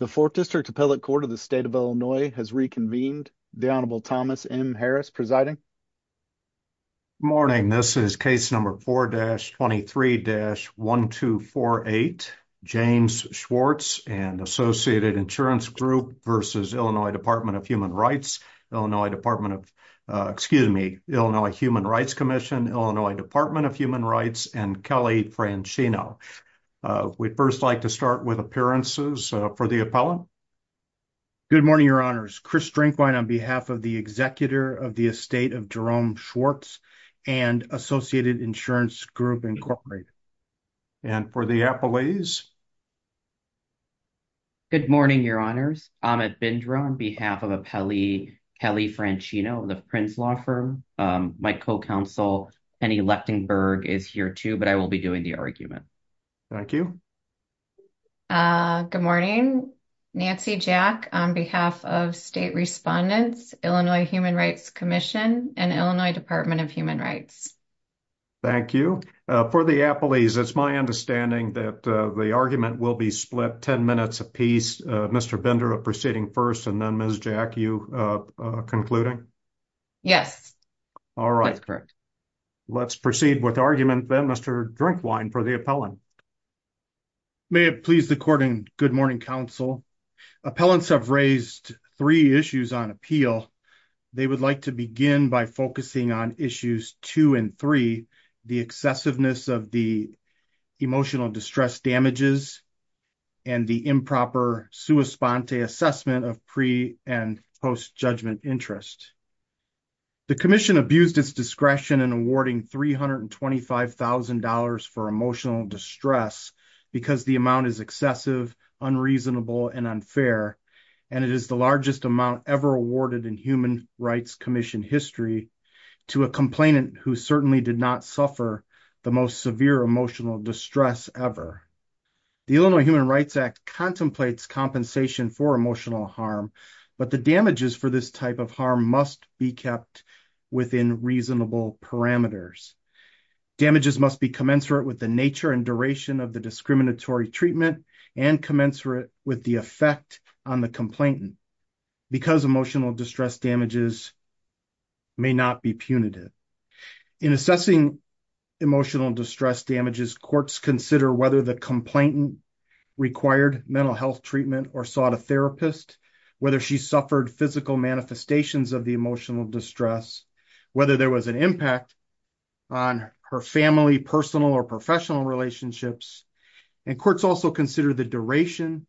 The 4th District Appellate Court of the State of Illinois has reconvened. The Honorable Thomas M. Harris presiding. Morning, this is case number 4-23-1248, James Schwartz and Associated Insurance Group v. Illinois Department of Human Rights, Illinois Department of, excuse me, Illinois Human Rights Commission, Illinois Department of Human Rights, and Kelly Francino. We'd first like to start with appearances for the appellant. Good morning, Your Honors. Chris Drinkwine on behalf of the Executor of the Estate of Jerome Schwartz and Associated Insurance Group, Incorporated. And for the appellees. Good morning, Your Honors. Amit Bindra on behalf of Kelly Francino, the Prince Law Firm. My co-counsel Penny Lechtenberg is here too, but I will be doing the argument. Thank you. Good morning. Nancy Jack on behalf of State Respondents, Illinois Human Rights Commission, and Illinois Department of Human Rights. Thank you. For the appellees, it's my understanding that the argument will be split 10 minutes apiece. Mr. Bindra proceeding first and then Ms. Jack, you concluding? Yes. All right. Let's proceed with argument then, Mr. Drinkwine for the appellant. May it please the court and good morning, counsel. Appellants have raised three issues on appeal. They would like to begin by focusing on issues two and three, the excessiveness of the emotional distress damages and the improper sua sponte assessment of pre and post judgment interest. The commission abused its discretion in awarding $325,000 for emotional distress because the amount is excessive, unreasonable, and unfair. And it is the largest amount ever awarded in human rights commission history to a complainant who certainly did not suffer the most severe emotional distress ever. The Illinois Human Rights Act contemplates compensation for emotional harm, but the damages for this type of harm must be kept within reasonable parameters. Damages must be commensurate with the nature and duration of the discriminatory treatment and commensurate with the effect on the complainant because emotional distress damages may not be punitive. In assessing emotional distress damages, courts consider whether the complainant required mental health treatment or sought a therapist, whether she suffered physical manifestations of the emotional distress, whether there was an impact on her family, personal, or professional relationships. And courts also consider the duration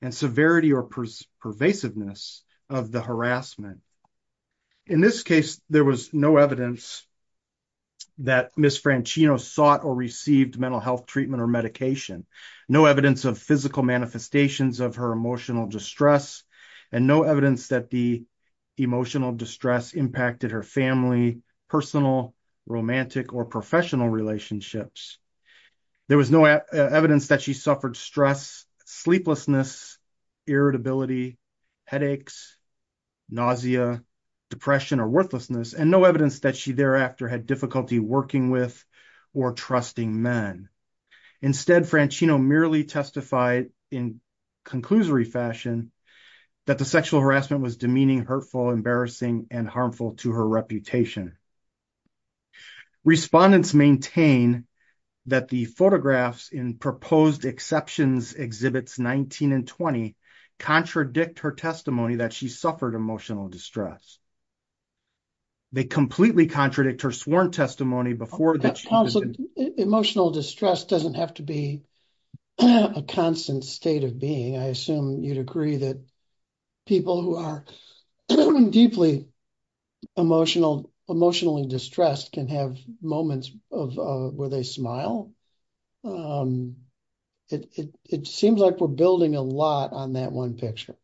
and severity or pervasiveness of the harassment. In this case, there was no evidence that Ms. Franchino sought or received mental health treatment or medication, no evidence of physical manifestations of her emotional distress, and no evidence that the emotional distress impacted her family, personal, romantic, or professional relationships. There was no evidence that she suffered stress, sleeplessness, irritability, headaches, nausea, depression, or worthlessness, and no evidence that she thereafter had difficulty working with or trusting men. Instead, Franchino merely testified in conclusory fashion that the sexual harassment was demeaning, hurtful, embarrassing, and harmful to her reputation. Respondents maintain that the photographs in proposed exceptions exhibits 19 and 20 contradict her testimony that she suffered emotional distress. They completely contradict her sworn testimony before that she- That constant emotional distress doesn't have to be a constant state of being. I assume you'd agree that people who are deeply emotionally distressed can have moments where they smile. It seems like we're building a lot on that one picture.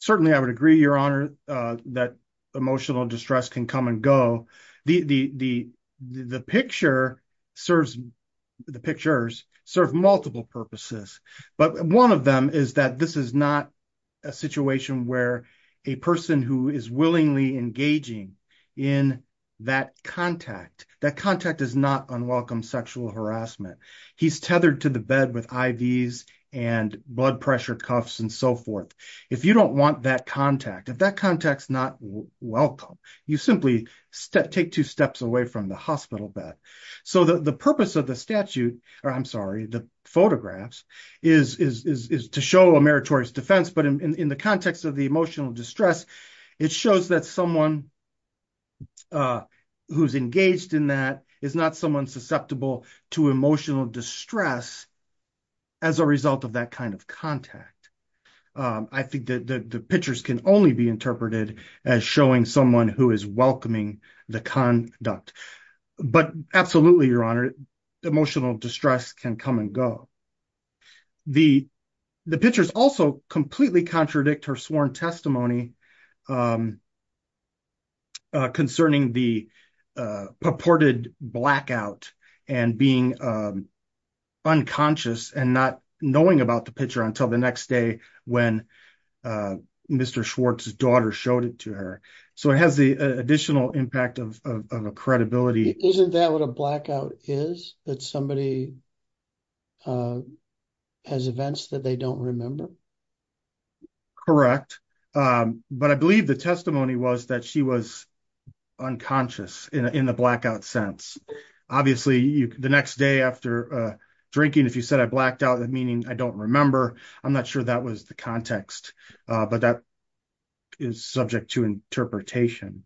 Certainly, I would agree, Your Honor, that emotional distress can come and go. The picture serves multiple purposes, but one of them is that this is not a situation where a person who is willingly engaging in that contact, that contact is not unwelcome sexual harassment. He's tethered to the bed with IVs and blood pressure cuffs and so forth. If you don't want that contact, if that contact's not welcome, you simply take two steps away from the hospital bed. The purpose of the statute, or I'm sorry, the photographs, is to show a meritorious defense, but in the context of the emotional distress, it shows that someone who's engaged in that is not someone susceptible to emotional distress as a result of that kind of contact. I think that the pictures can only be interpreted as showing someone who is welcoming the conduct. Absolutely, Your Honor, emotional distress can come and go. The pictures also completely contradict her sworn testimony concerning the purported blackout and being unconscious and not knowing about the picture until the next day when Mr. Schwartz's daughter showed it to her. It has the additional impact of a credibility. Isn't that what a blackout is, that somebody has events that they don't remember? Correct, but I believe the testimony was that she was unconscious in the blackout sense. Obviously, the next day after drinking, if you said, I blacked out, meaning I don't remember, I'm not sure that was the context, but that is subject to interpretation.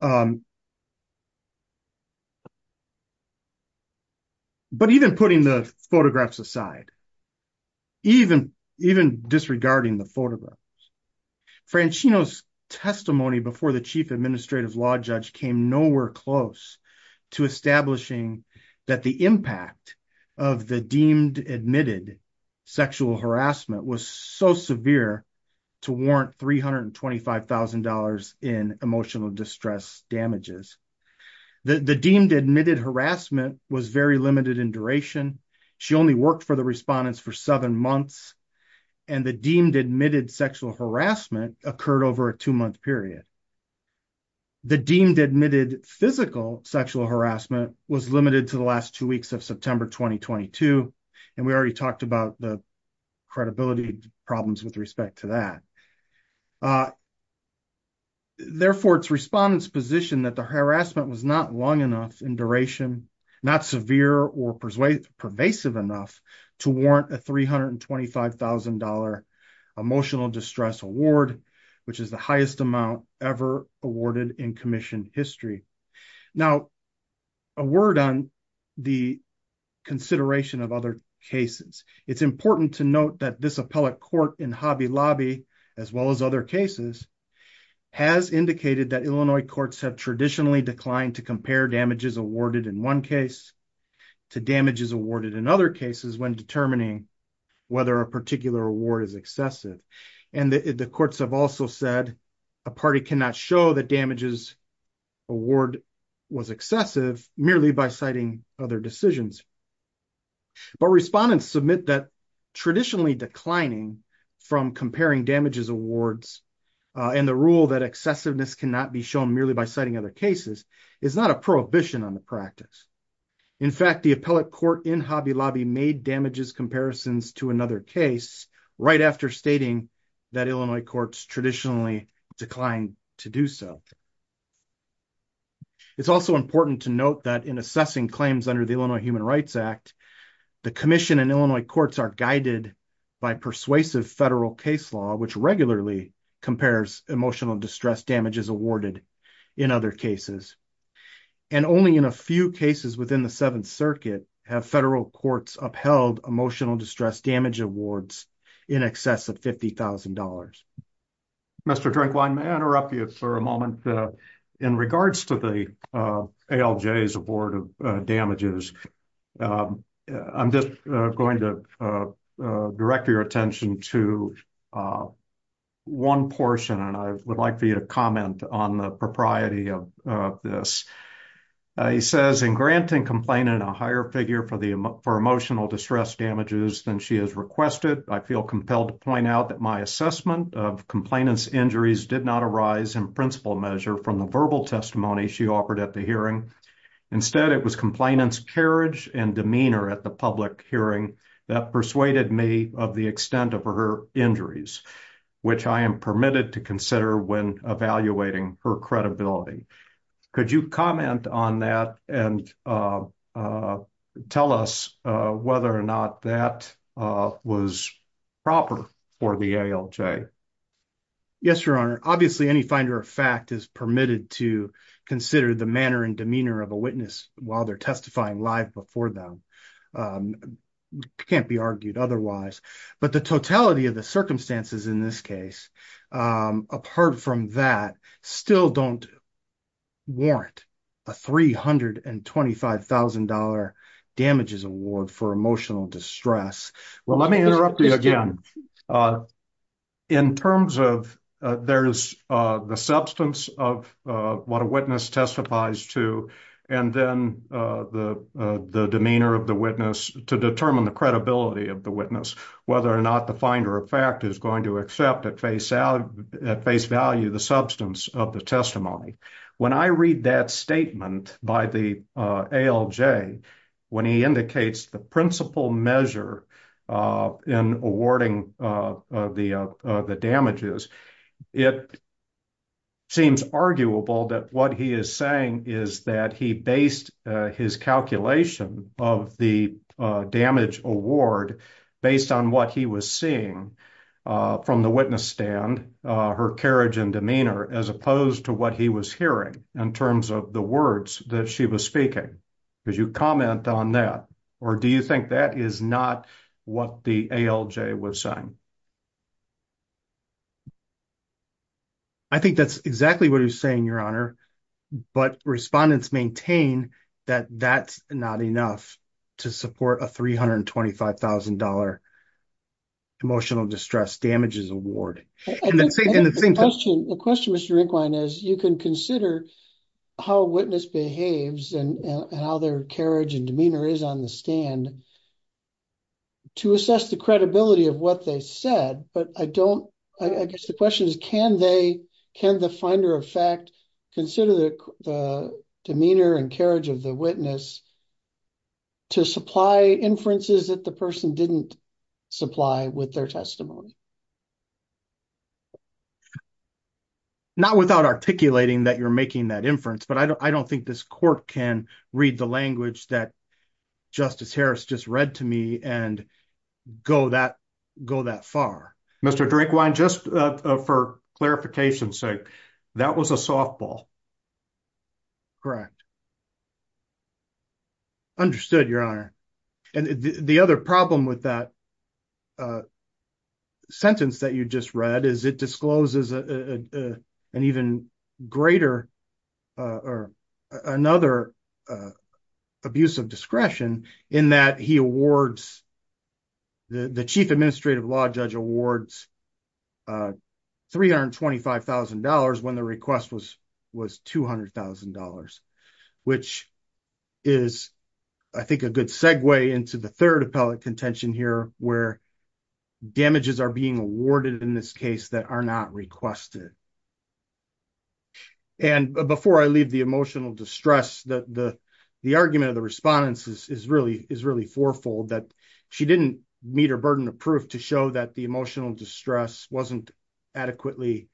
But even putting the photographs aside, even disregarding the photographs, Franchino's testimony before the Chief Administrative Law Judge came nowhere close to establishing that the impact of the deemed-admitted sexual harassment was so severe to warrant $325,000 in emotional distress damages. The deemed-admitted harassment was very limited in duration. She only worked for the respondents for seven months, and the deemed-admitted sexual harassment occurred over a two-month period. The deemed-admitted physical sexual harassment was limited to the last two weeks of September 2022, and we already talked about the credibility problems with respect to that. Therefore, it's respondents' position that the harassment was not long enough in duration, not severe or pervasive enough to warrant a $325,000 emotional distress award, which is the highest amount ever awarded in commission history. Now, a word on the consideration of other cases. It's important to note that this appellate court in Hobby Lobby, as well as other cases, has indicated that Illinois courts have traditionally declined to compare damages awarded in one case to damages awarded in other cases when determining whether a particular award is excessive. And the courts have also said a party cannot show that damages award was excessive merely by citing other decisions. But respondents submit that traditionally declining from comparing damages awards and the rule that excessiveness cannot be shown merely by citing other cases is not a prohibition on the practice. In fact, the appellate court in Hobby Lobby made damages comparisons to another case right after stating that Illinois courts traditionally declined to do so. It's also important to note that in assessing claims under the Illinois Human Rights Act, the commission and Illinois courts are guided by persuasive federal case law, which regularly compares emotional distress damages awarded in other cases. And only in a few cases within the Seventh Circuit have federal courts upheld emotional distress damage awards in excess of $50,000. Mr. Drinkwine, may I interrupt you for a moment? In regards to the ALJ's award of damages, I'm just going to direct your attention to one portion, and I would like for you to comment on the propriety of this. He says, in granting complainant a higher figure for emotional distress damages than she has requested, I feel compelled to point out that my assessment of complainant's injuries did not arise in principle measure from the verbal testimony she offered at the hearing. Instead, it was carriage and demeanor at the public hearing that persuaded me of the extent of her injuries, which I am permitted to consider when evaluating her credibility. Could you comment on that and tell us whether or not that was proper for the ALJ? Yes, Your Honor. Obviously, any finder of testifying live before them can't be argued otherwise. But the totality of the circumstances in this case, apart from that, still don't warrant a $325,000 damages award for emotional distress. Well, let me interrupt you again. In terms of there's the substance of what a witness testifies to, and then the demeanor of the witness to determine the credibility of the witness, whether or not the finder of fact is going to accept at face value the substance of the testimony. When I read that statement by the ALJ, when he indicates the principle measure in awarding the damages, it seems arguable that what he is saying is that he based his calculation of the damage award based on what he was seeing from the witness stand, her carriage and demeanor, as opposed to what he was hearing in terms of the words that she was speaking. Could you comment on that? Or do you think that is not what the ALJ was saying? I think that's exactly what he was saying, Your Honor. But respondents maintain that that's not enough to support a $325,000 emotional distress damages award. The question, Mr. Inquine, is you can consider how a witness behaves and how their carriage and demeanor is on the stand to assess the credibility of what they said, but I guess the question is can the finder of fact consider the demeanor and carriage of the witness to supply inferences that the person didn't supply with their testimony? Not without articulating that you're making that inference, but I don't think this court can read the language that Justice Harris just read to me and go that far. Mr. Drakewine, just for clarification's sake, that was a softball. Correct. Understood, Your Honor. And the other problem with that sentence that you just read is it discloses an even greater or another abuse of discretion in that the Chief Administrative Law Judge awards $325,000 when the request was $200,000, which is, I think, a good segue into the third appellate contention here where damages are being awarded in this case that are not requested. And before I leave the emotional distress, the argument of the respondents is really fourfold, that she didn't meet her burden of proof to show that the emotional distress wasn't adequately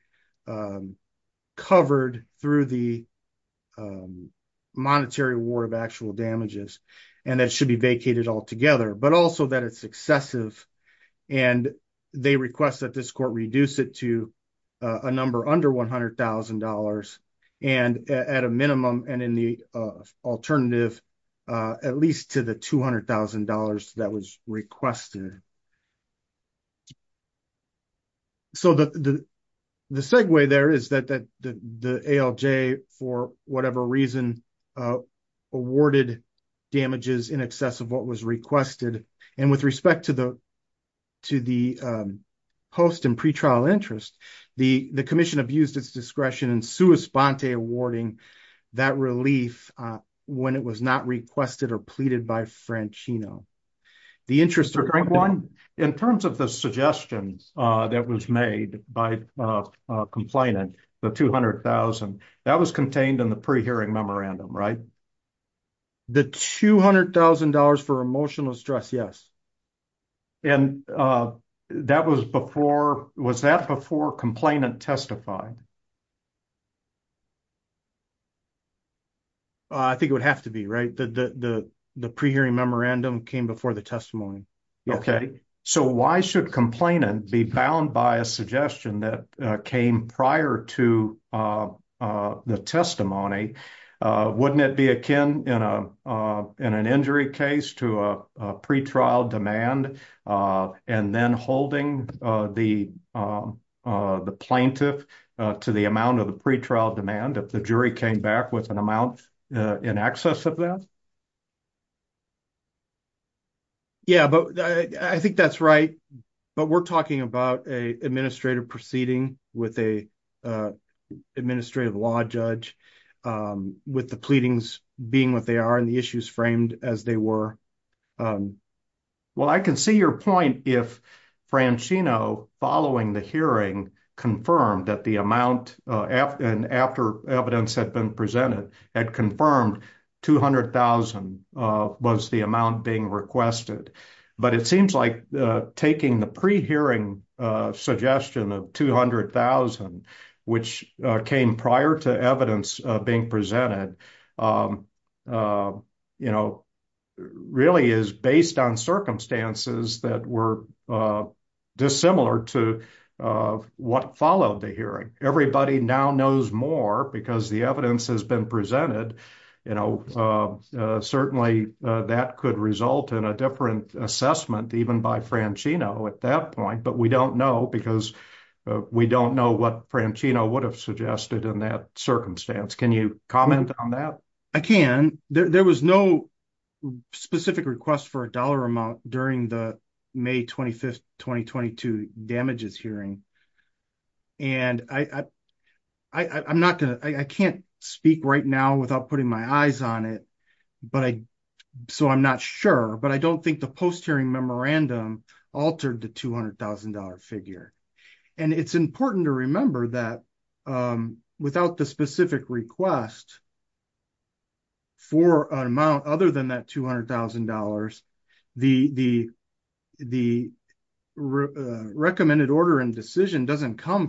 covered through the monetary award of actual damages and that it should be vacated altogether, but also that it's excessive. And they request that this court reduce it to a number under $100,000 and at a minimum and in the alternative, at least to the $200,000 that was requested. So the segue there is that the ALJ, for whatever reason, awarded damages in excess of what was requested. And with respect to the post and pretrial interest, the commission abused its discretion in sua sponte awarding that relief when it was not requested or pleaded by Franchino. In terms of the suggestions that was made by complainant, the $200,000, that was contained in the pre-hearing memorandum, right? The $200,000 for emotional stress, yes. And that was before, was that before complainant testified? I think it would have to be, right? The pre-hearing memorandum came before the testimony. Okay. So why should complainant be bound by a suggestion that came prior to the testimony? Wouldn't it be akin in an injury case to a pretrial demand and then holding the plaintiff to the amount of the pretrial demand if the jury came back with an amount in excess of that? Yeah, but I think that's right. But we're talking about a administrative proceeding with a administrative law judge with the pleadings being what they are and the issues framed as they were. Well, I can see your point if Franchino following the hearing confirmed that the amount, and after evidence had been presented, had confirmed $200,000 was the amount being requested. But it seems like taking the pre-hearing suggestion of $200,000, which came prior to evidence being presented, really is based on circumstances that were dissimilar to what followed the hearing. Everybody now knows more because the evidence has been presented. You know, certainly that could result in a different assessment even by Franchino at that point. But we don't know because we don't know what Franchino would have suggested in that circumstance. Can you comment on that? I can. There was no specific request for a dollar amount during the May 25, 2022 damages hearing. I can't speak right now without putting my eyes on it, so I'm not sure. But I don't think the post-hearing memorandum altered the $200,000 figure. It's important to remember that without the specific request for an amount other than that $200,000, the recommended order and decision doesn't come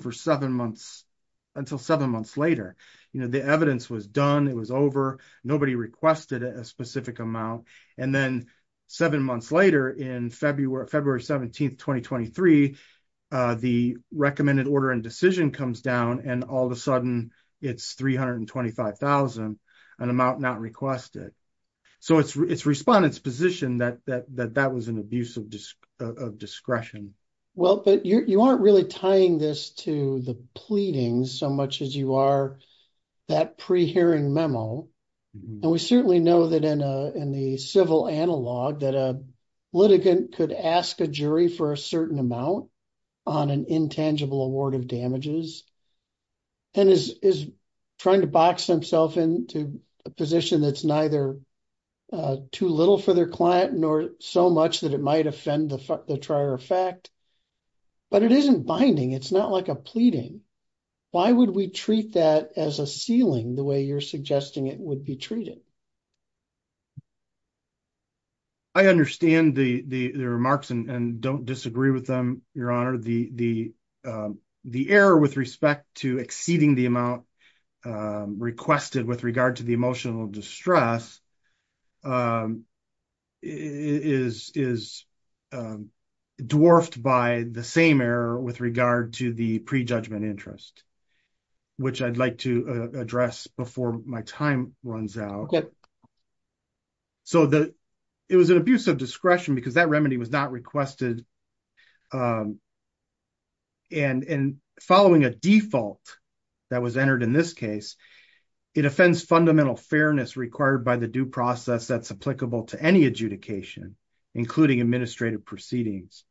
until seven months later. The evidence was done, it was over, nobody requested a specific amount, and then seven months later, on February 17, 2023, the recommended order and decision comes down and all of a sudden it's $325,000, an amount not requested. So it's respondents' position that that was an abuse of discretion. Well, but you aren't really tying this to the pleadings so much as you are that pre-hearing memo. And we certainly know that in the civil analog that a litigant could ask a for a certain amount on an intangible award of damages and is trying to box himself into a position that's neither too little for their client nor so much that it might offend the trier of fact. But it isn't binding, it's not like a pleading. Why would we treat that as a ceiling the way you're suggesting it would be treated? I understand the remarks and don't disagree with them, your honor. The error with respect to exceeding the amount requested with regard to the emotional distress is dwarfed by the same error with regard to the prejudgment interest, which I'd like to address before my time runs out. So it was an abuse of discretion because that remedy was not requested. And following a default that was entered in this case, it offends fundamental fairness required by the due process that's applicable to any adjudication, including administrative proceedings.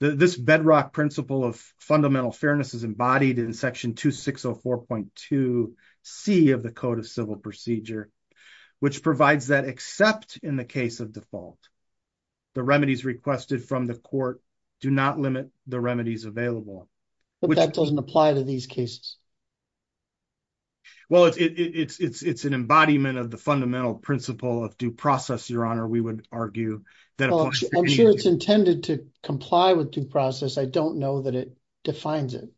This bedrock principle of fundamental fairness is embodied in section 2604.2c of the code of civil procedure, which provides that except in the case of default, the remedies requested from the court do not limit the remedies available. But that doesn't apply to these cases. Well, it's an embodiment of the fundamental principle of due process, your honor, we would argue. I'm sure it's intended to comply with due process. I don't know that it defines it.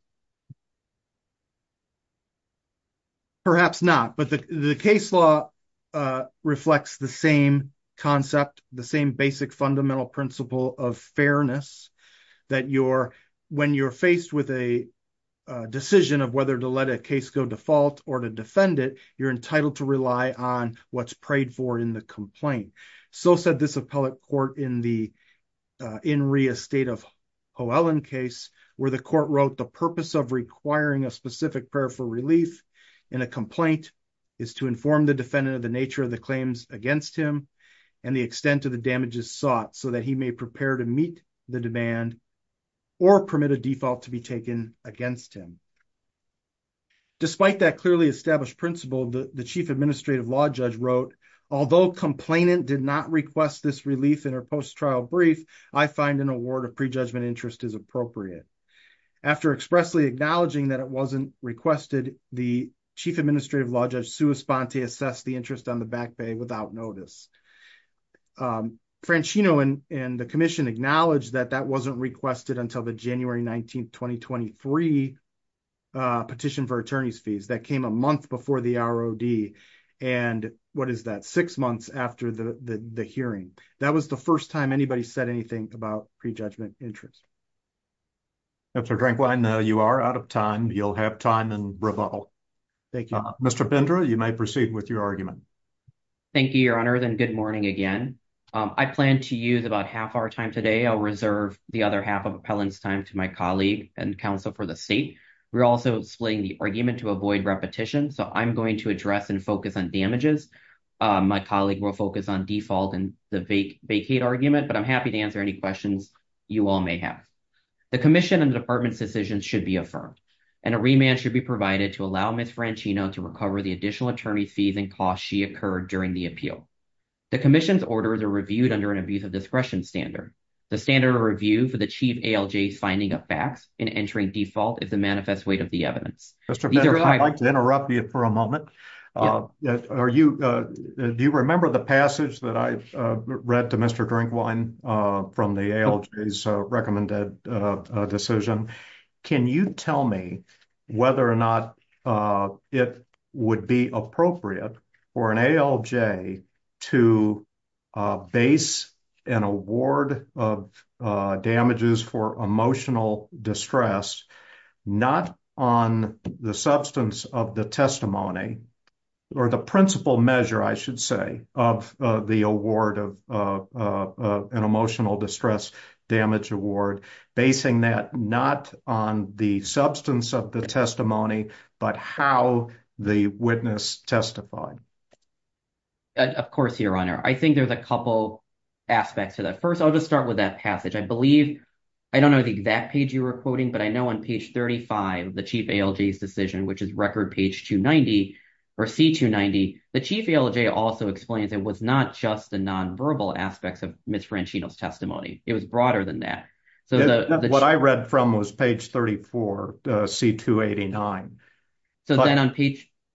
Perhaps not. But the case law reflects the same concept, the same basic fundamental principle of fairness that when you're faced with a decision of whether to let a case go default or to defend it, you're entitled to rely on what's prayed for in the complaint. So said this appellate court in the state of Hoelland case where the court wrote the purpose of requiring a specific prayer for relief in a complaint is to inform the defendant of the nature of the claims against him and the extent of the damages sought so that he may prepare to meet the demand or permit a default to be taken against him. Despite that clearly established principle, the chief administrative law judge wrote, although complainant did not request this relief in her post-trial brief, I find an award of prejudgment interest is appropriate. After expressly acknowledging that it wasn't requested, the chief administrative law judge Sue Esponte assessed the interest on the back pay without notice. Franchino and the commission acknowledged that that wasn't requested until the January 19th, 2023 petition for attorney's for the ROD. And what is that? Six months after the hearing, that was the first time anybody said anything about prejudgment interest. Dr. Drankwine, now you are out of time. You'll have time and rebuttal. Thank you. Mr. Bindra, you may proceed with your argument. Thank you, your honor. Then good morning again. I plan to use about half our time today. I'll reserve the other half of appellant's time to my colleague and counsel for the state. We're also splitting the argument to avoid repetition, so I'm going to address and focus on damages. My colleague will focus on default and the vacate argument, but I'm happy to answer any questions you all may have. The commission and the department's decision should be affirmed and a remand should be provided to allow Ms. Franchino to recover the additional attorney fees and costs she occurred during the appeal. The commission's orders are reviewed under an abuse of discretion standard. The standard of review for the chief ALJ's finding of facts and entering default is the manifest weight of evidence. Mr. Bindra, I'd like to interrupt you for a moment. Do you remember the passage that I read to Mr. Drinkwine from the ALJ's recommended decision? Can you tell me whether or not it would be appropriate for an ALJ to base an award of damages for emotional distress not on the substance of the testimony or the principal measure, I should say, of the award of an emotional distress damage award, basing that not on the substance of the testimony, but how the witness testified? Of course, Your Honor. I think there's a couple aspects to that. First, I'll just start with that passage. I believe, I don't know the exact page you were quoting, but I know on page 35, the chief ALJ's decision, which is record page 290, or C290, the chief ALJ also explains it was not just the nonverbal aspects of Ms. Franchino's testimony. It was broader than that. What I read from was page 34, C289.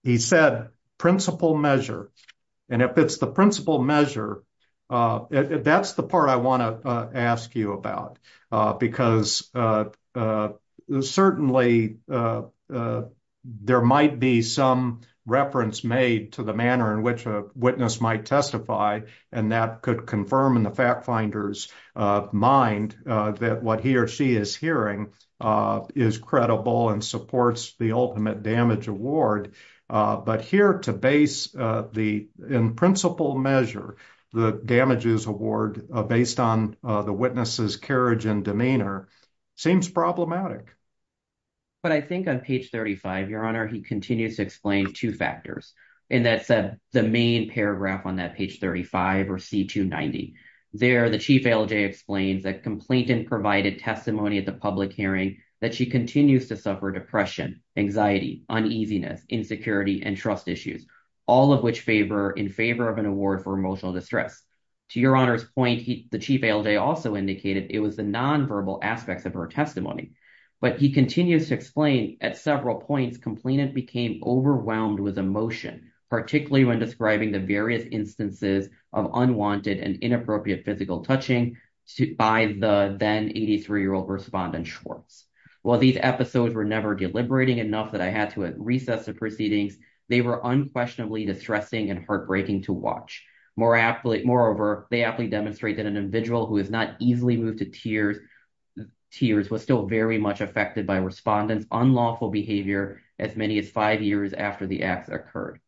He said principal measure, and if it's the principal measure, that's the part I want to ask you about, because certainly there might be some reference made to the manner in which a witness might testify, and that could confirm in the fact finder's mind that what he or she is hearing is credible and supports the ultimate damage award, but here to base in principal measure the damages award based on the witness's carriage and demeanor seems problematic. But I think on page 35, Your Honor, he continues to explain two factors, and that's the main paragraph on that page 35, or C290. There, the chief ALJ explains that complainant provided testimony at the public hearing that she continues to suffer depression, anxiety, uneasiness, insecurity, and trust issues, all of which favor in favor of an award for emotional distress. To Your Honor's point, the chief ALJ also indicated it was the nonverbal aspects of her testimony, but he continues to explain at several points complainant became overwhelmed with emotion, particularly when describing the various instances of unwanted and inappropriate physical touching by the then 83-year-old respondent Schwartz. While these episodes were never deliberating enough that I had to recess the proceedings, they were unquestionably distressing and heartbreaking to watch. Moreover, they aptly demonstrate that an individual who has not easily moved to tears was still very much affected by respondent's unlawful behavior as many as five years after the acts occurred.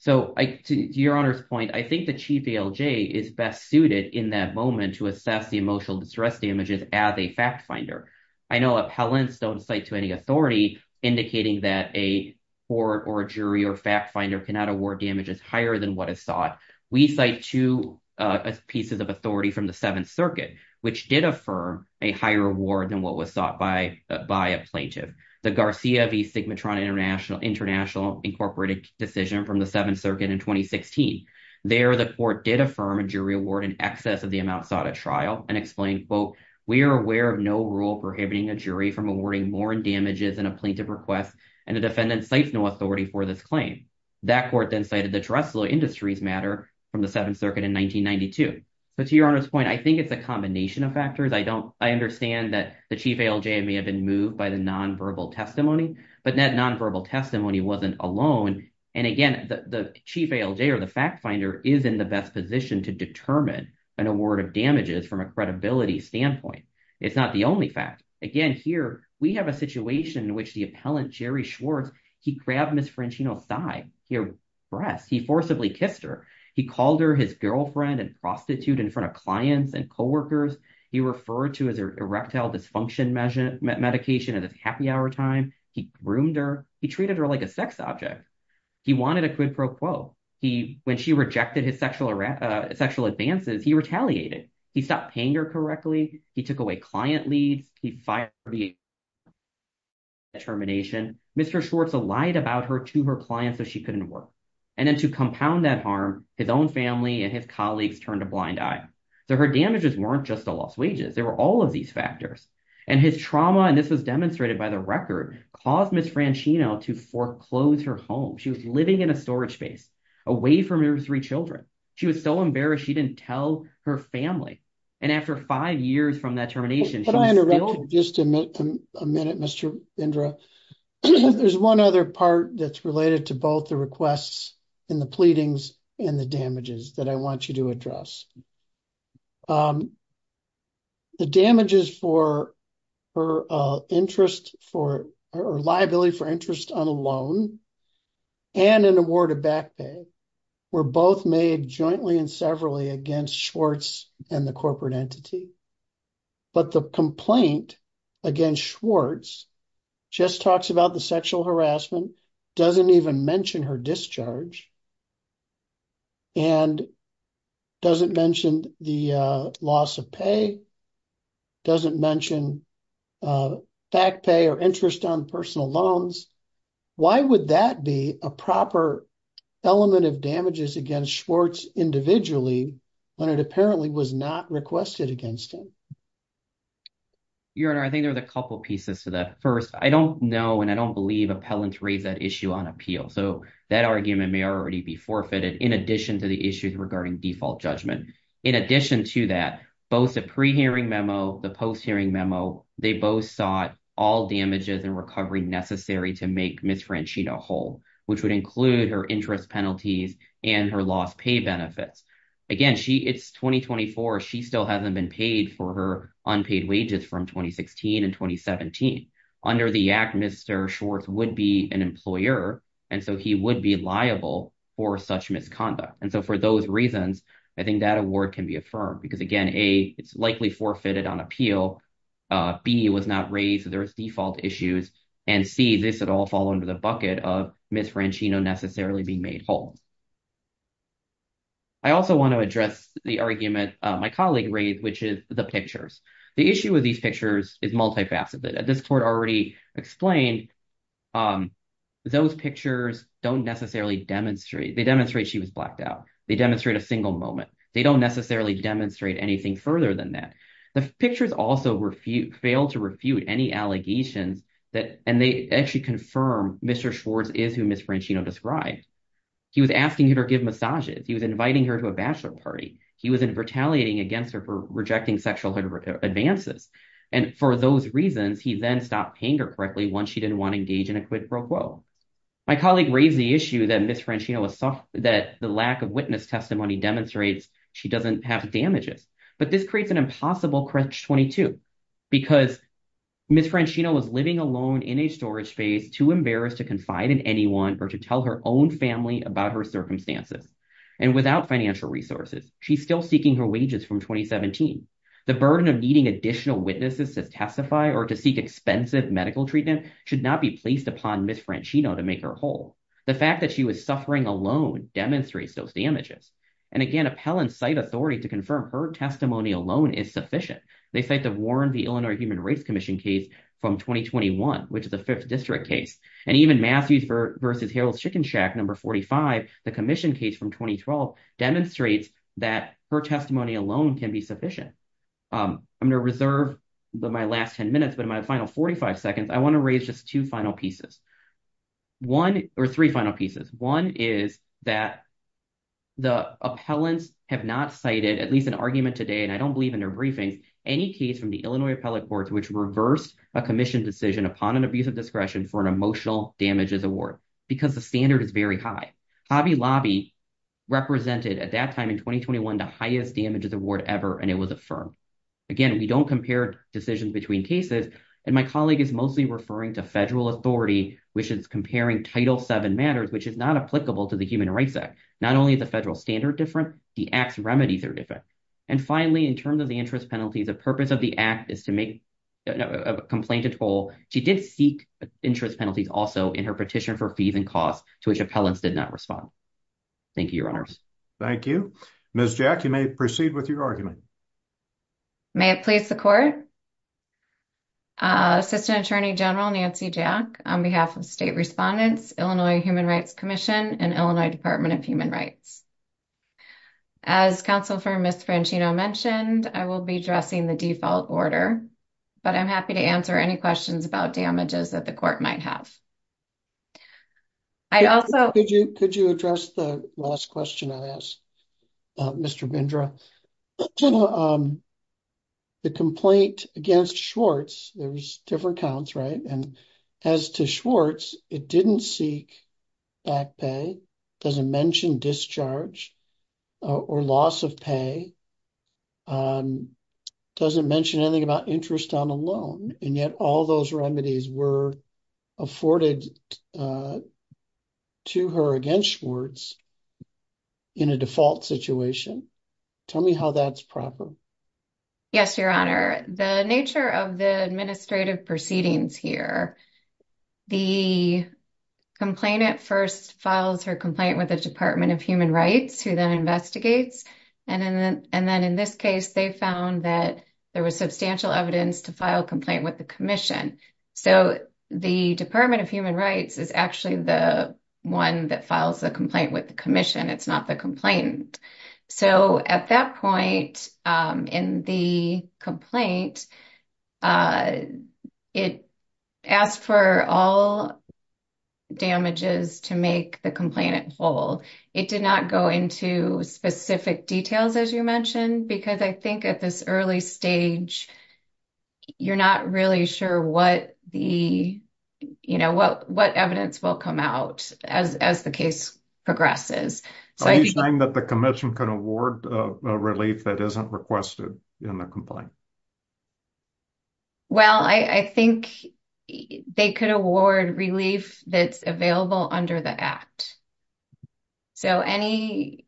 So to Your Honor's point, I think the chief ALJ is best suited in that moment to assess the emotional distress damages as a fact finder. I know appellants don't cite to any authority indicating that a court or a jury or fact finder cannot award damages higher than what is sought. We cite two pieces of authority from the Seventh Circuit, which did affirm a higher award than what was sought by a plaintiff, the Garcia v. Sigmatron International Incorporated decision from the Seventh Circuit in 2016. There, the court did affirm a jury award in excess of the amount sought at trial and explained, we are aware of no rule prohibiting a jury from awarding more damages than a plaintiff requests, and the defendant cites no authority for this claim. That court then cited the Trestle Industries matter from the Seventh Circuit in 1992. But to Your Honor's point, I think it's a combination of factors. I understand that the chief ALJ may have been moved by the nonverbal testimony, but that nonverbal testimony wasn't alone. And again, the chief ALJ or the fact finder is in best position to determine an award of damages from a credibility standpoint. It's not the only fact. Again, here, we have a situation in which the appellant, Jerry Schwartz, he grabbed Ms. Francino's thigh, her breast. He forcibly kissed her. He called her his girlfriend and prostitute in front of clients and coworkers. He referred to her erectile dysfunction medication as a happy hour time. He groomed her. He treated her like a sex object. He wanted a quid pro quo. When she rejected his sexual advances, he retaliated. He stopped paying her correctly. He took away client leads. He fired her. Mr. Schwartz lied about her to her clients that she couldn't work. And then to compound that harm, his own family and his colleagues turned a blind eye. So her damages weren't just the lost wages. There were all of these factors. And his trauma, and this was demonstrated by the record, caused Ms. Francino to foreclose her home. She was living in a storage base away from her three children. She was so embarrassed she didn't tell her family. And after five years from that termination, she was still- Can I interrupt you just a minute, Mr. Indra? There's one other part that's related to both the requests and the pleadings and the damages that I want you to address. The damages for her interest or liability for interest on a loan and an award of back pay were both made jointly and severally against Schwartz and the corporate entity. But the complaint against Schwartz just talks about the sexual harassment, doesn't even mention her discharge, and doesn't mention the loss of pay, doesn't mention back pay or interest on personal loans. Why would that be a proper element of damages against Schwartz individually when it apparently was not requested against him? Your Honor, I think there's a couple pieces to that. First, I don't know and I don't believe appellants raised that issue on appeal. So that argument may already be forfeited in addition to the issues regarding default judgment. In addition to that, both the pre-hearing memo, the post-hearing memo, they both sought all damages and recovery necessary to make Ms. Franchino whole, which would include her interest penalties and her lost pay benefits. Again, it's 2024. She still hasn't been paid for her unpaid wages from 2016 and 2017. Under the Act, Mr. Schwartz would be an employer and so he would be liable for such misconduct. And so for those reasons, I think that award can be affirmed because, again, A, it's forfeited on appeal. B, it was not raised. There's default issues. And C, this would all fall under the bucket of Ms. Franchino necessarily being made whole. I also want to address the argument my colleague raised, which is the pictures. The issue with these pictures is multifaceted. As this Court already explained, those pictures don't necessarily demonstrate. They demonstrate she was blacked out. They demonstrate a single moment. They don't necessarily demonstrate anything further than that. The pictures also failed to refute any allegations that, and they actually confirm Mr. Schwartz is who Ms. Franchino described. He was asking her to give massages. He was inviting her to a bachelor party. He was retaliating against her for rejecting sexual advances. And for those reasons, he then stopped paying her correctly once she didn't want to engage in a quid pro quo. My colleague raised the issue that Ms. Franchino was, that the lack of witness testimony demonstrates she doesn't have damages. But this creates an impossible crutch 22 because Ms. Franchino was living alone in a storage space too embarrassed to confide in anyone or to tell her own family about her circumstances. And without financial resources, she's still seeking her wages from 2017. The burden of needing additional witnesses to testify or to seek expensive medical treatment should not be placed upon Ms. Franchino to make her whole. The fact that she was suffering alone demonstrates those damages. And again, appellants cite authority to confirm her testimony alone is sufficient. They cite the Warren v. Illinois Human Rights Commission case from 2021, which is a fifth district case. And even Matthews versus Harold Chickenshack, number 45, the commission case from 2012, demonstrates that her testimony alone can be sufficient. I'm going to reserve my last 10 minutes, but in my final 45 seconds, I want to three final pieces. One is that the appellants have not cited at least an argument today, and I don't believe in their briefings, any case from the Illinois appellate courts, which reversed a commission decision upon an abuse of discretion for an emotional damages award, because the standard is very high. Hobby Lobby represented at that time in 2021, the highest damages award ever, and it was affirmed. Again, we don't compare decisions between cases. And my colleague is referring to federal authority, which is comparing Title VII matters, which is not applicable to the Human Rights Act. Not only is the federal standard different, the act's remedies are different. And finally, in terms of the interest penalties, the purpose of the act is to make a complaint at all. She did seek interest penalties also in her petition for fees and costs to which appellants did not respond. Thank you, your honors. Thank you. Ms. Jack, you may proceed with your argument. May it please the court. Assistant Attorney General Nancy Jack, on behalf of state respondents, Illinois Human Rights Commission, and Illinois Department of Human Rights. As counsel for Ms. Franchino mentioned, I will be addressing the default order, but I'm happy to answer any questions about damages that the court might have. I'd also... Could you address the last question I asked, Mr. Bindra? The complaint against Schwartz, there's different counts, right? And as to Schwartz, it didn't seek back pay, doesn't mention discharge or loss of pay, doesn't mention anything about interest on a loan. And yet all those remedies were afforded to her against Schwartz in a default situation. Tell me how that's proper. Yes, your honor. The nature of the administrative proceedings here, the complainant first files her complaint with the Department of Human Rights, who then investigates. And then in this case, they found that there was substantial evidence to file a complaint with the commission. So the Department of Human Rights is actually the one that files the complaint with the commission. It's not the complainant. So at that point in the complaint, it asked for all damages to make the complainant whole. It did not go into specific details, as you mentioned, because I think at this early stage, you're not really sure what evidence will come out as the case progresses. Are you saying that the commission could award relief that isn't requested in the complaint? Well, I think they could award relief that's available under the act. So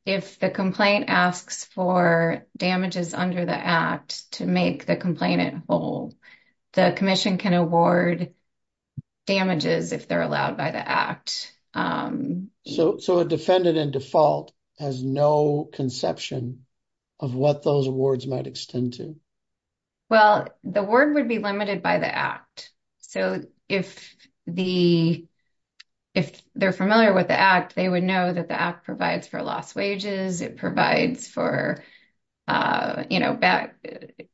if the complaint asks for damages under the act to make the complainant whole, the commission can award damages if they're allowed by the act. So a defendant in default has no conception of what those awards might extend to? Well, the word would be limited by the act. So if they're familiar with the act, they would know that the act provides for lost wages. It provides for bad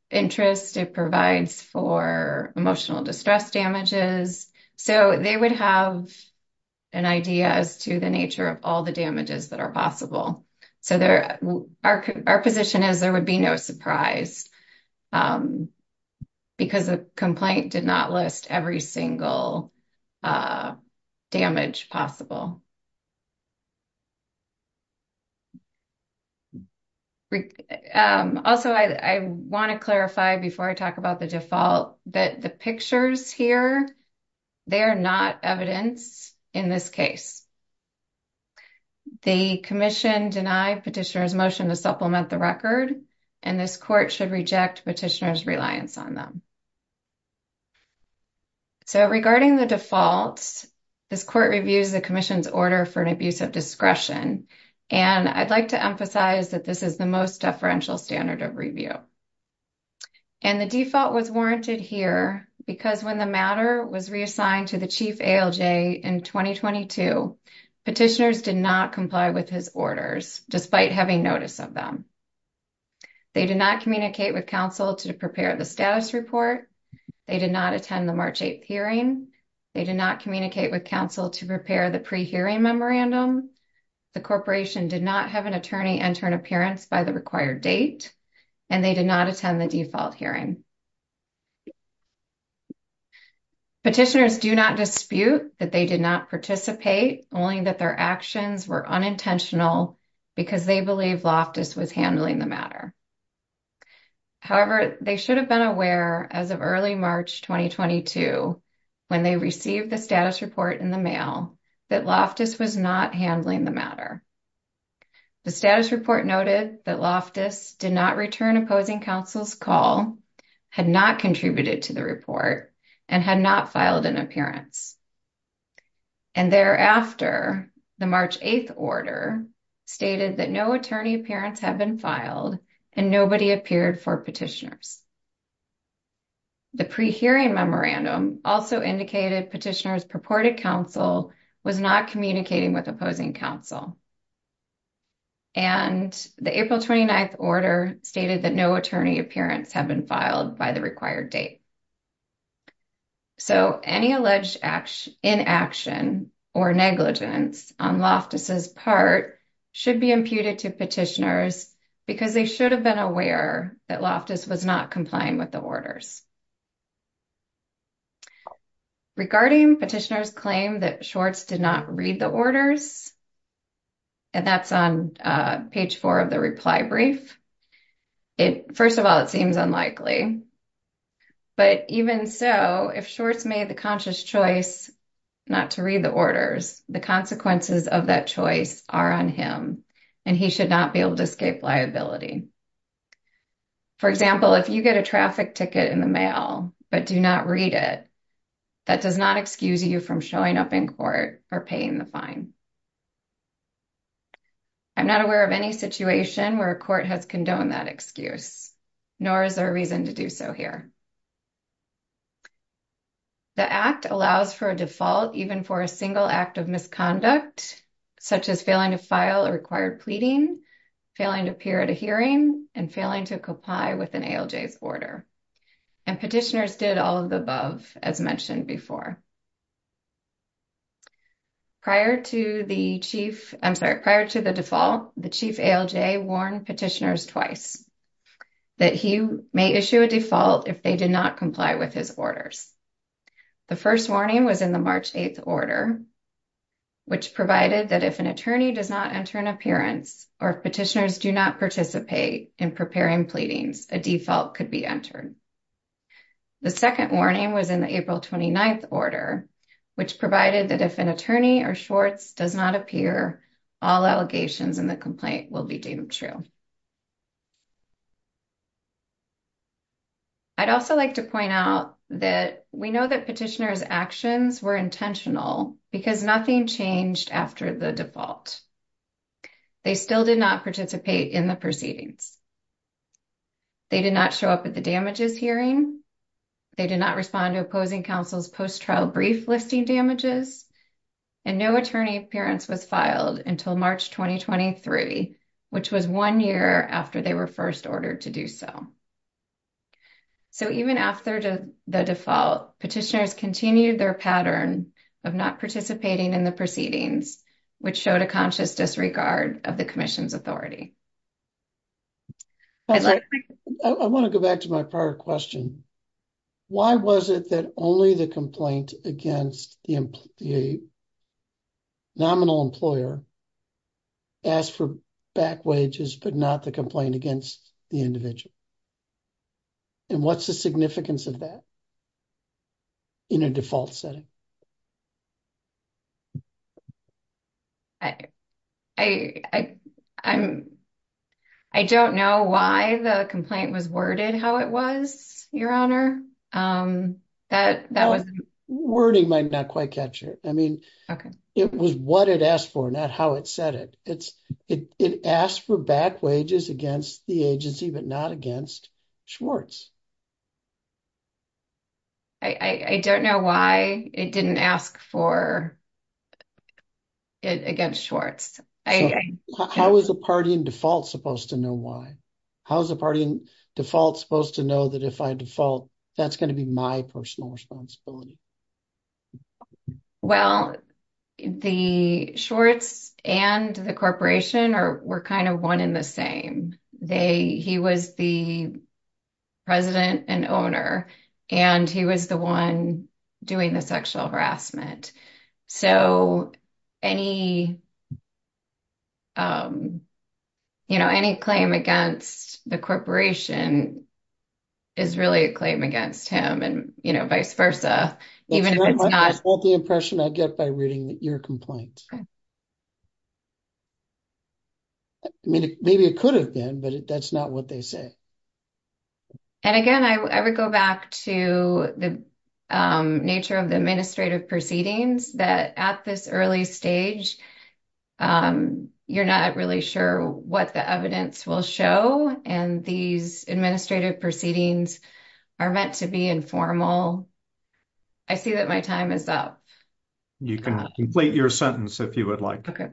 interest. It provides for emotional distress damages. So they would have an idea as to the nature of all the damages that are possible. So our position is there would be no surprise because the complaint did not list every single damage possible. Also, I want to clarify before I talk about the default that the pictures here, they are not evidence in this case. The commission denied petitioner's motion to supplement the record, and this court should reject petitioner's reliance on them. So regarding the default, this court reviews the commission's order for an abuse of discretion. And I'd like to emphasize that this is the most deferential standard of review. And the default was warranted here because when the matter was reassigned to the chief ALJ in 2022, petitioners did not comply with his orders, despite having notice of them. They did not communicate with counsel to prepare the status report. They did not attend the March 8th hearing. They did not communicate with counsel to prepare the pre-hearing memorandum. The corporation did not have an attorney enter an appearance by the required date, and they did not attend the default hearing. Petitioners do not dispute that they did not participate, only that their actions were unintentional because they believe Loftus was handling the matter. However, they should have been aware as of early March 2022, when they received the status report in the mail, that Loftus was not handling the matter. The status report noted that Loftus did not return opposing counsel's call, had not contributed to the report, and had not filed an appearance. And thereafter, the March 8th order stated that no attorney appearance had been filed and nobody appeared for petitioners. The pre-hearing memorandum also indicated petitioners purported counsel was not communicating with opposing counsel. And the April 29th order stated that no attorney appearance had been filed by the required date. So, any alleged inaction or negligence on Loftus' part should be imputed to petitioners because they should have been aware that Loftus was not complying with the orders. Regarding petitioners' claim that Schwartz did not read the orders, and that's on page four of the reply brief, it, first of all, it seems unlikely. But even so, if Schwartz made the conscious choice not to read the orders, the consequences of that choice are on him, and he should not be able to escape liability. For example, if you get a traffic ticket in the mail but do not read it, that does not excuse you from showing up in court or paying the fine. I'm not aware of any situation where a court has condoned that excuse, nor is there a reason to do so here. The Act allows for a default even for a single act of misconduct, such as failing to file a and failing to comply with an ALJ's order. And petitioners did all of the above, as mentioned before. Prior to the chief, I'm sorry, prior to the default, the chief ALJ warned petitioners twice that he may issue a default if they did not comply with his orders. The first warning was in the March 8th order, which provided that if an attorney does not enter an appearance, or if petitioners do not participate in preparing pleadings, a default could be entered. The second warning was in the April 29th order, which provided that if an attorney or Schwartz does not appear, all allegations in the complaint will be deemed true. I'd also like to point out that we know that petitioners' actions were intentional because nothing changed after the default. They still did not participate in the proceedings. They did not show up at the damages hearing. They did not respond to opposing counsel's post-trial brief listing damages. And no attorney appearance was filed until March 2023, which was one year after they were first ordered to do so. So even after the default, petitioners continued their pattern of not participating in the proceedings, which showed a conscious disregard of the commission's authority. I want to go back to my prior question. Why was it that only the complaint against the nominal employer asked for back wages, but not the complaint against the individual? And what's the significance of that in a default setting? I don't know why the complaint was worded how it was, Your Honor. Wording might not quite catch it. I mean, it was what it asked for, not how it said it. It asked for back wages against the agency, but not against Schwartz. I don't know why it didn't ask for it against Schwartz. How is a party in default supposed to know why? How is a party in default supposed to know that if I default, that's going to be my personal responsibility? Well, the Schwartz and the corporation were kind of one in the same. He was the president and owner, and he was the one doing the sexual harassment. So, any claim against the corporation is really a claim against him and vice versa. That's not the impression I get by reading your complaint. I mean, maybe it could have been, but that's not what they say. And again, I would go back to the nature of the administrative proceedings that at this early stage, you're not really sure what the evidence will show, and these administrative proceedings are meant to be informal. I see that my time is up. You can complete your sentence if you would like. The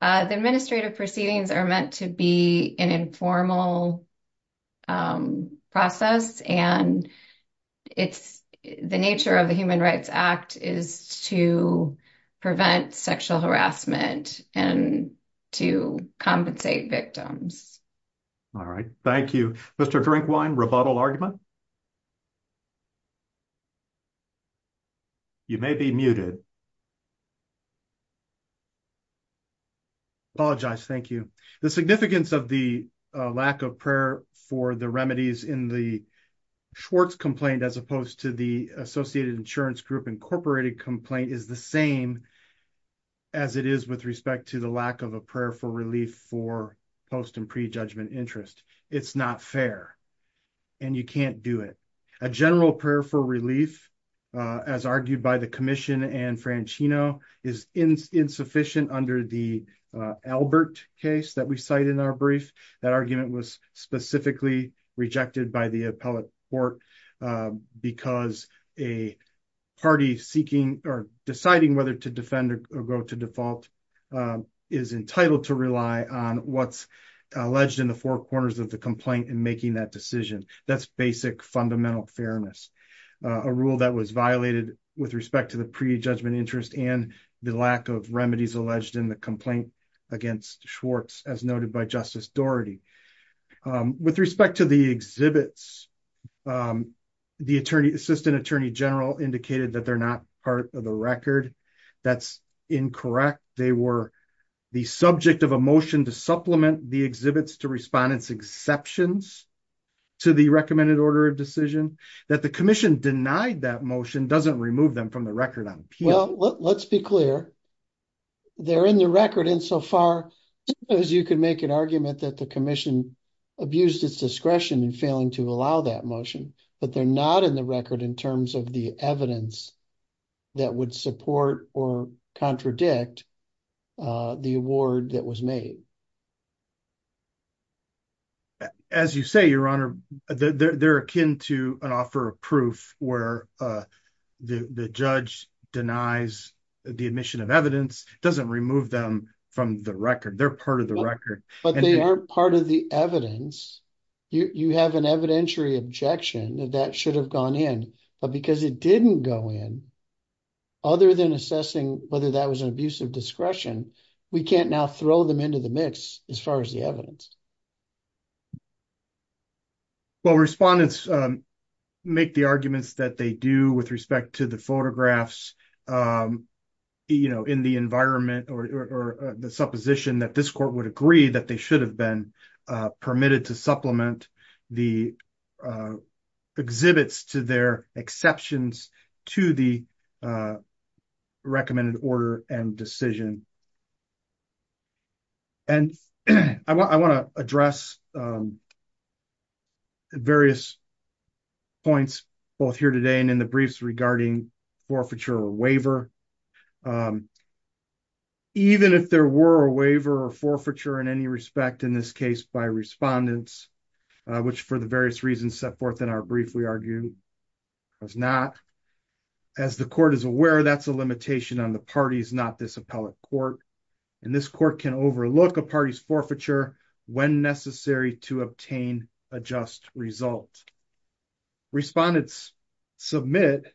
administrative proceedings are meant to be an informal process, and the nature of the Human Rights Act is to prevent sexual harassment and to compensate victims. All right. Thank you. Mr. Drinkwine, rebuttal argument? You may be muted. I apologize. Thank you. The significance of the lack of prayer for the remedies in the Schwartz complaint as opposed to the Associated Insurance Group Incorporated complaint is the same as it is with respect to the lack of a prayer for relief for post and prejudgment interest. It's not fair, and you can't do it. A general prayer for relief, as argued by the commission and Franchino, is insufficient under the Albert case that we cite in our brief. That argument was specifically rejected by the appellate court because a party deciding whether to defend or go to default is entitled to rely on what's alleged in the four corners of the complaint in making that decision. That's basic fundamental fairness, a rule that was violated with respect to the prejudgment interest and the lack of remedies alleged in the complaint against Schwartz, as noted by Justice Dougherty. With respect to the exhibits, the assistant attorney general indicated that they're not part of the record. That's incorrect. They were the subject of a motion to supplement the exhibits to respondents' exceptions to the recommended order of decision. That the commission denied that motion doesn't remove them from the record on appeal. Let's be clear. They're in the record insofar as you can make an argument that the commission abused its discretion in failing to allow that motion, but they're not in the record in terms of the evidence that would support or contradict the award that was made. As you say, Your Honor, they're akin to an offer of proof where the judge denies the admission of evidence, doesn't remove them from the record. They're part of the record. But they are part of the evidence. You have an evidentiary objection that that should have gone in, but because it didn't go in, other than assessing whether that was an abuse of discretion, we can't now throw them into the mix as far as the evidence. Well, respondents make the arguments that they do with respect to the photographs in the environment or the supposition that this court would agree that they should have been permitted to supplement the exhibits to their exceptions to the recommended order and decision. And I want to address various points both here today and in the briefs regarding forfeiture or waiver. Even if there were a waiver or forfeiture in any respect in this case by respondents, which for the various reasons set forth in our brief, we argue does not. As the court is aware, that's a limitation on the parties, not this appellate court. And this court can overlook a party's forfeiture when necessary to obtain a just result. Respondents submit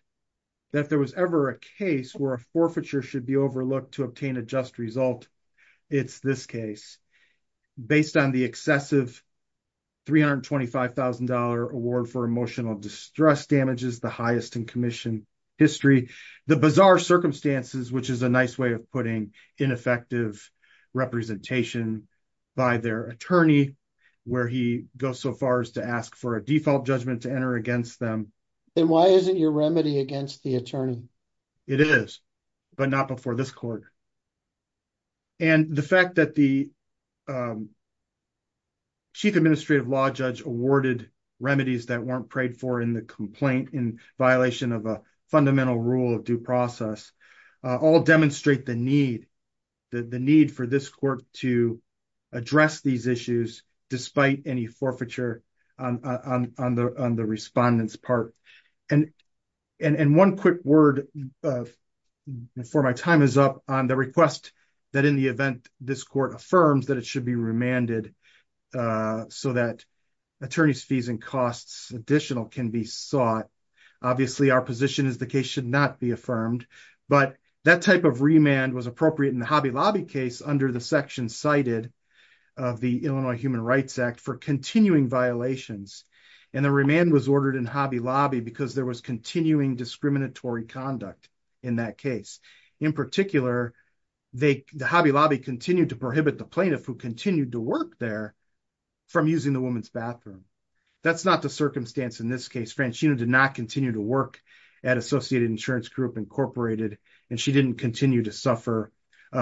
that if there was ever a case where a forfeiture should be overlooked to obtain a just result, it's this case. Based on the excessive $325,000 award for emotional distress damages, the highest in commission history, the bizarre circumstances, which is a nice way of putting ineffective representation by their attorney, where he goes so far as to ask for a default judgment to enter against them. And why isn't your remedy against the attorney? It is, but not before this court. And the fact that the chief administrative law judge awarded remedies that weren't prayed for in the complaint in violation of a fundamental rule of due process, all demonstrate the need for this court to address these issues despite any forfeiture on the respondents part. And one quick word before my time is up on the request that in the event this court affirms that it should be remanded so that attorney's fees and costs additional can be sought. Obviously our position is the case should not be affirmed, but that type of remand was appropriate in the Hobby Lobby case under the section cited of the Illinois Human Rights Act for continuing violations. And the remand was ordered in Hobby Lobby because there was continuing discriminatory conduct in that case. In particular, the Hobby Lobby continued to prohibit the plaintiff who continued to work there from using the woman's bathroom. That's not the circumstance in this case. Franchino did not continue to work at Associated Insurance Group, Incorporated, and she didn't continue to suffer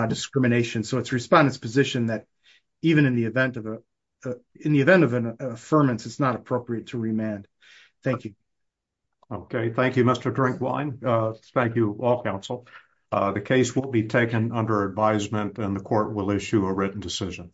discrimination. So it's respondent's position that even in the event of an affirmance, it's not appropriate to remand. Thank you. Okay. Thank you, Mr. Drinkwine. Thank you, all counsel. The case will be taken under advisement and the court will issue a written decision.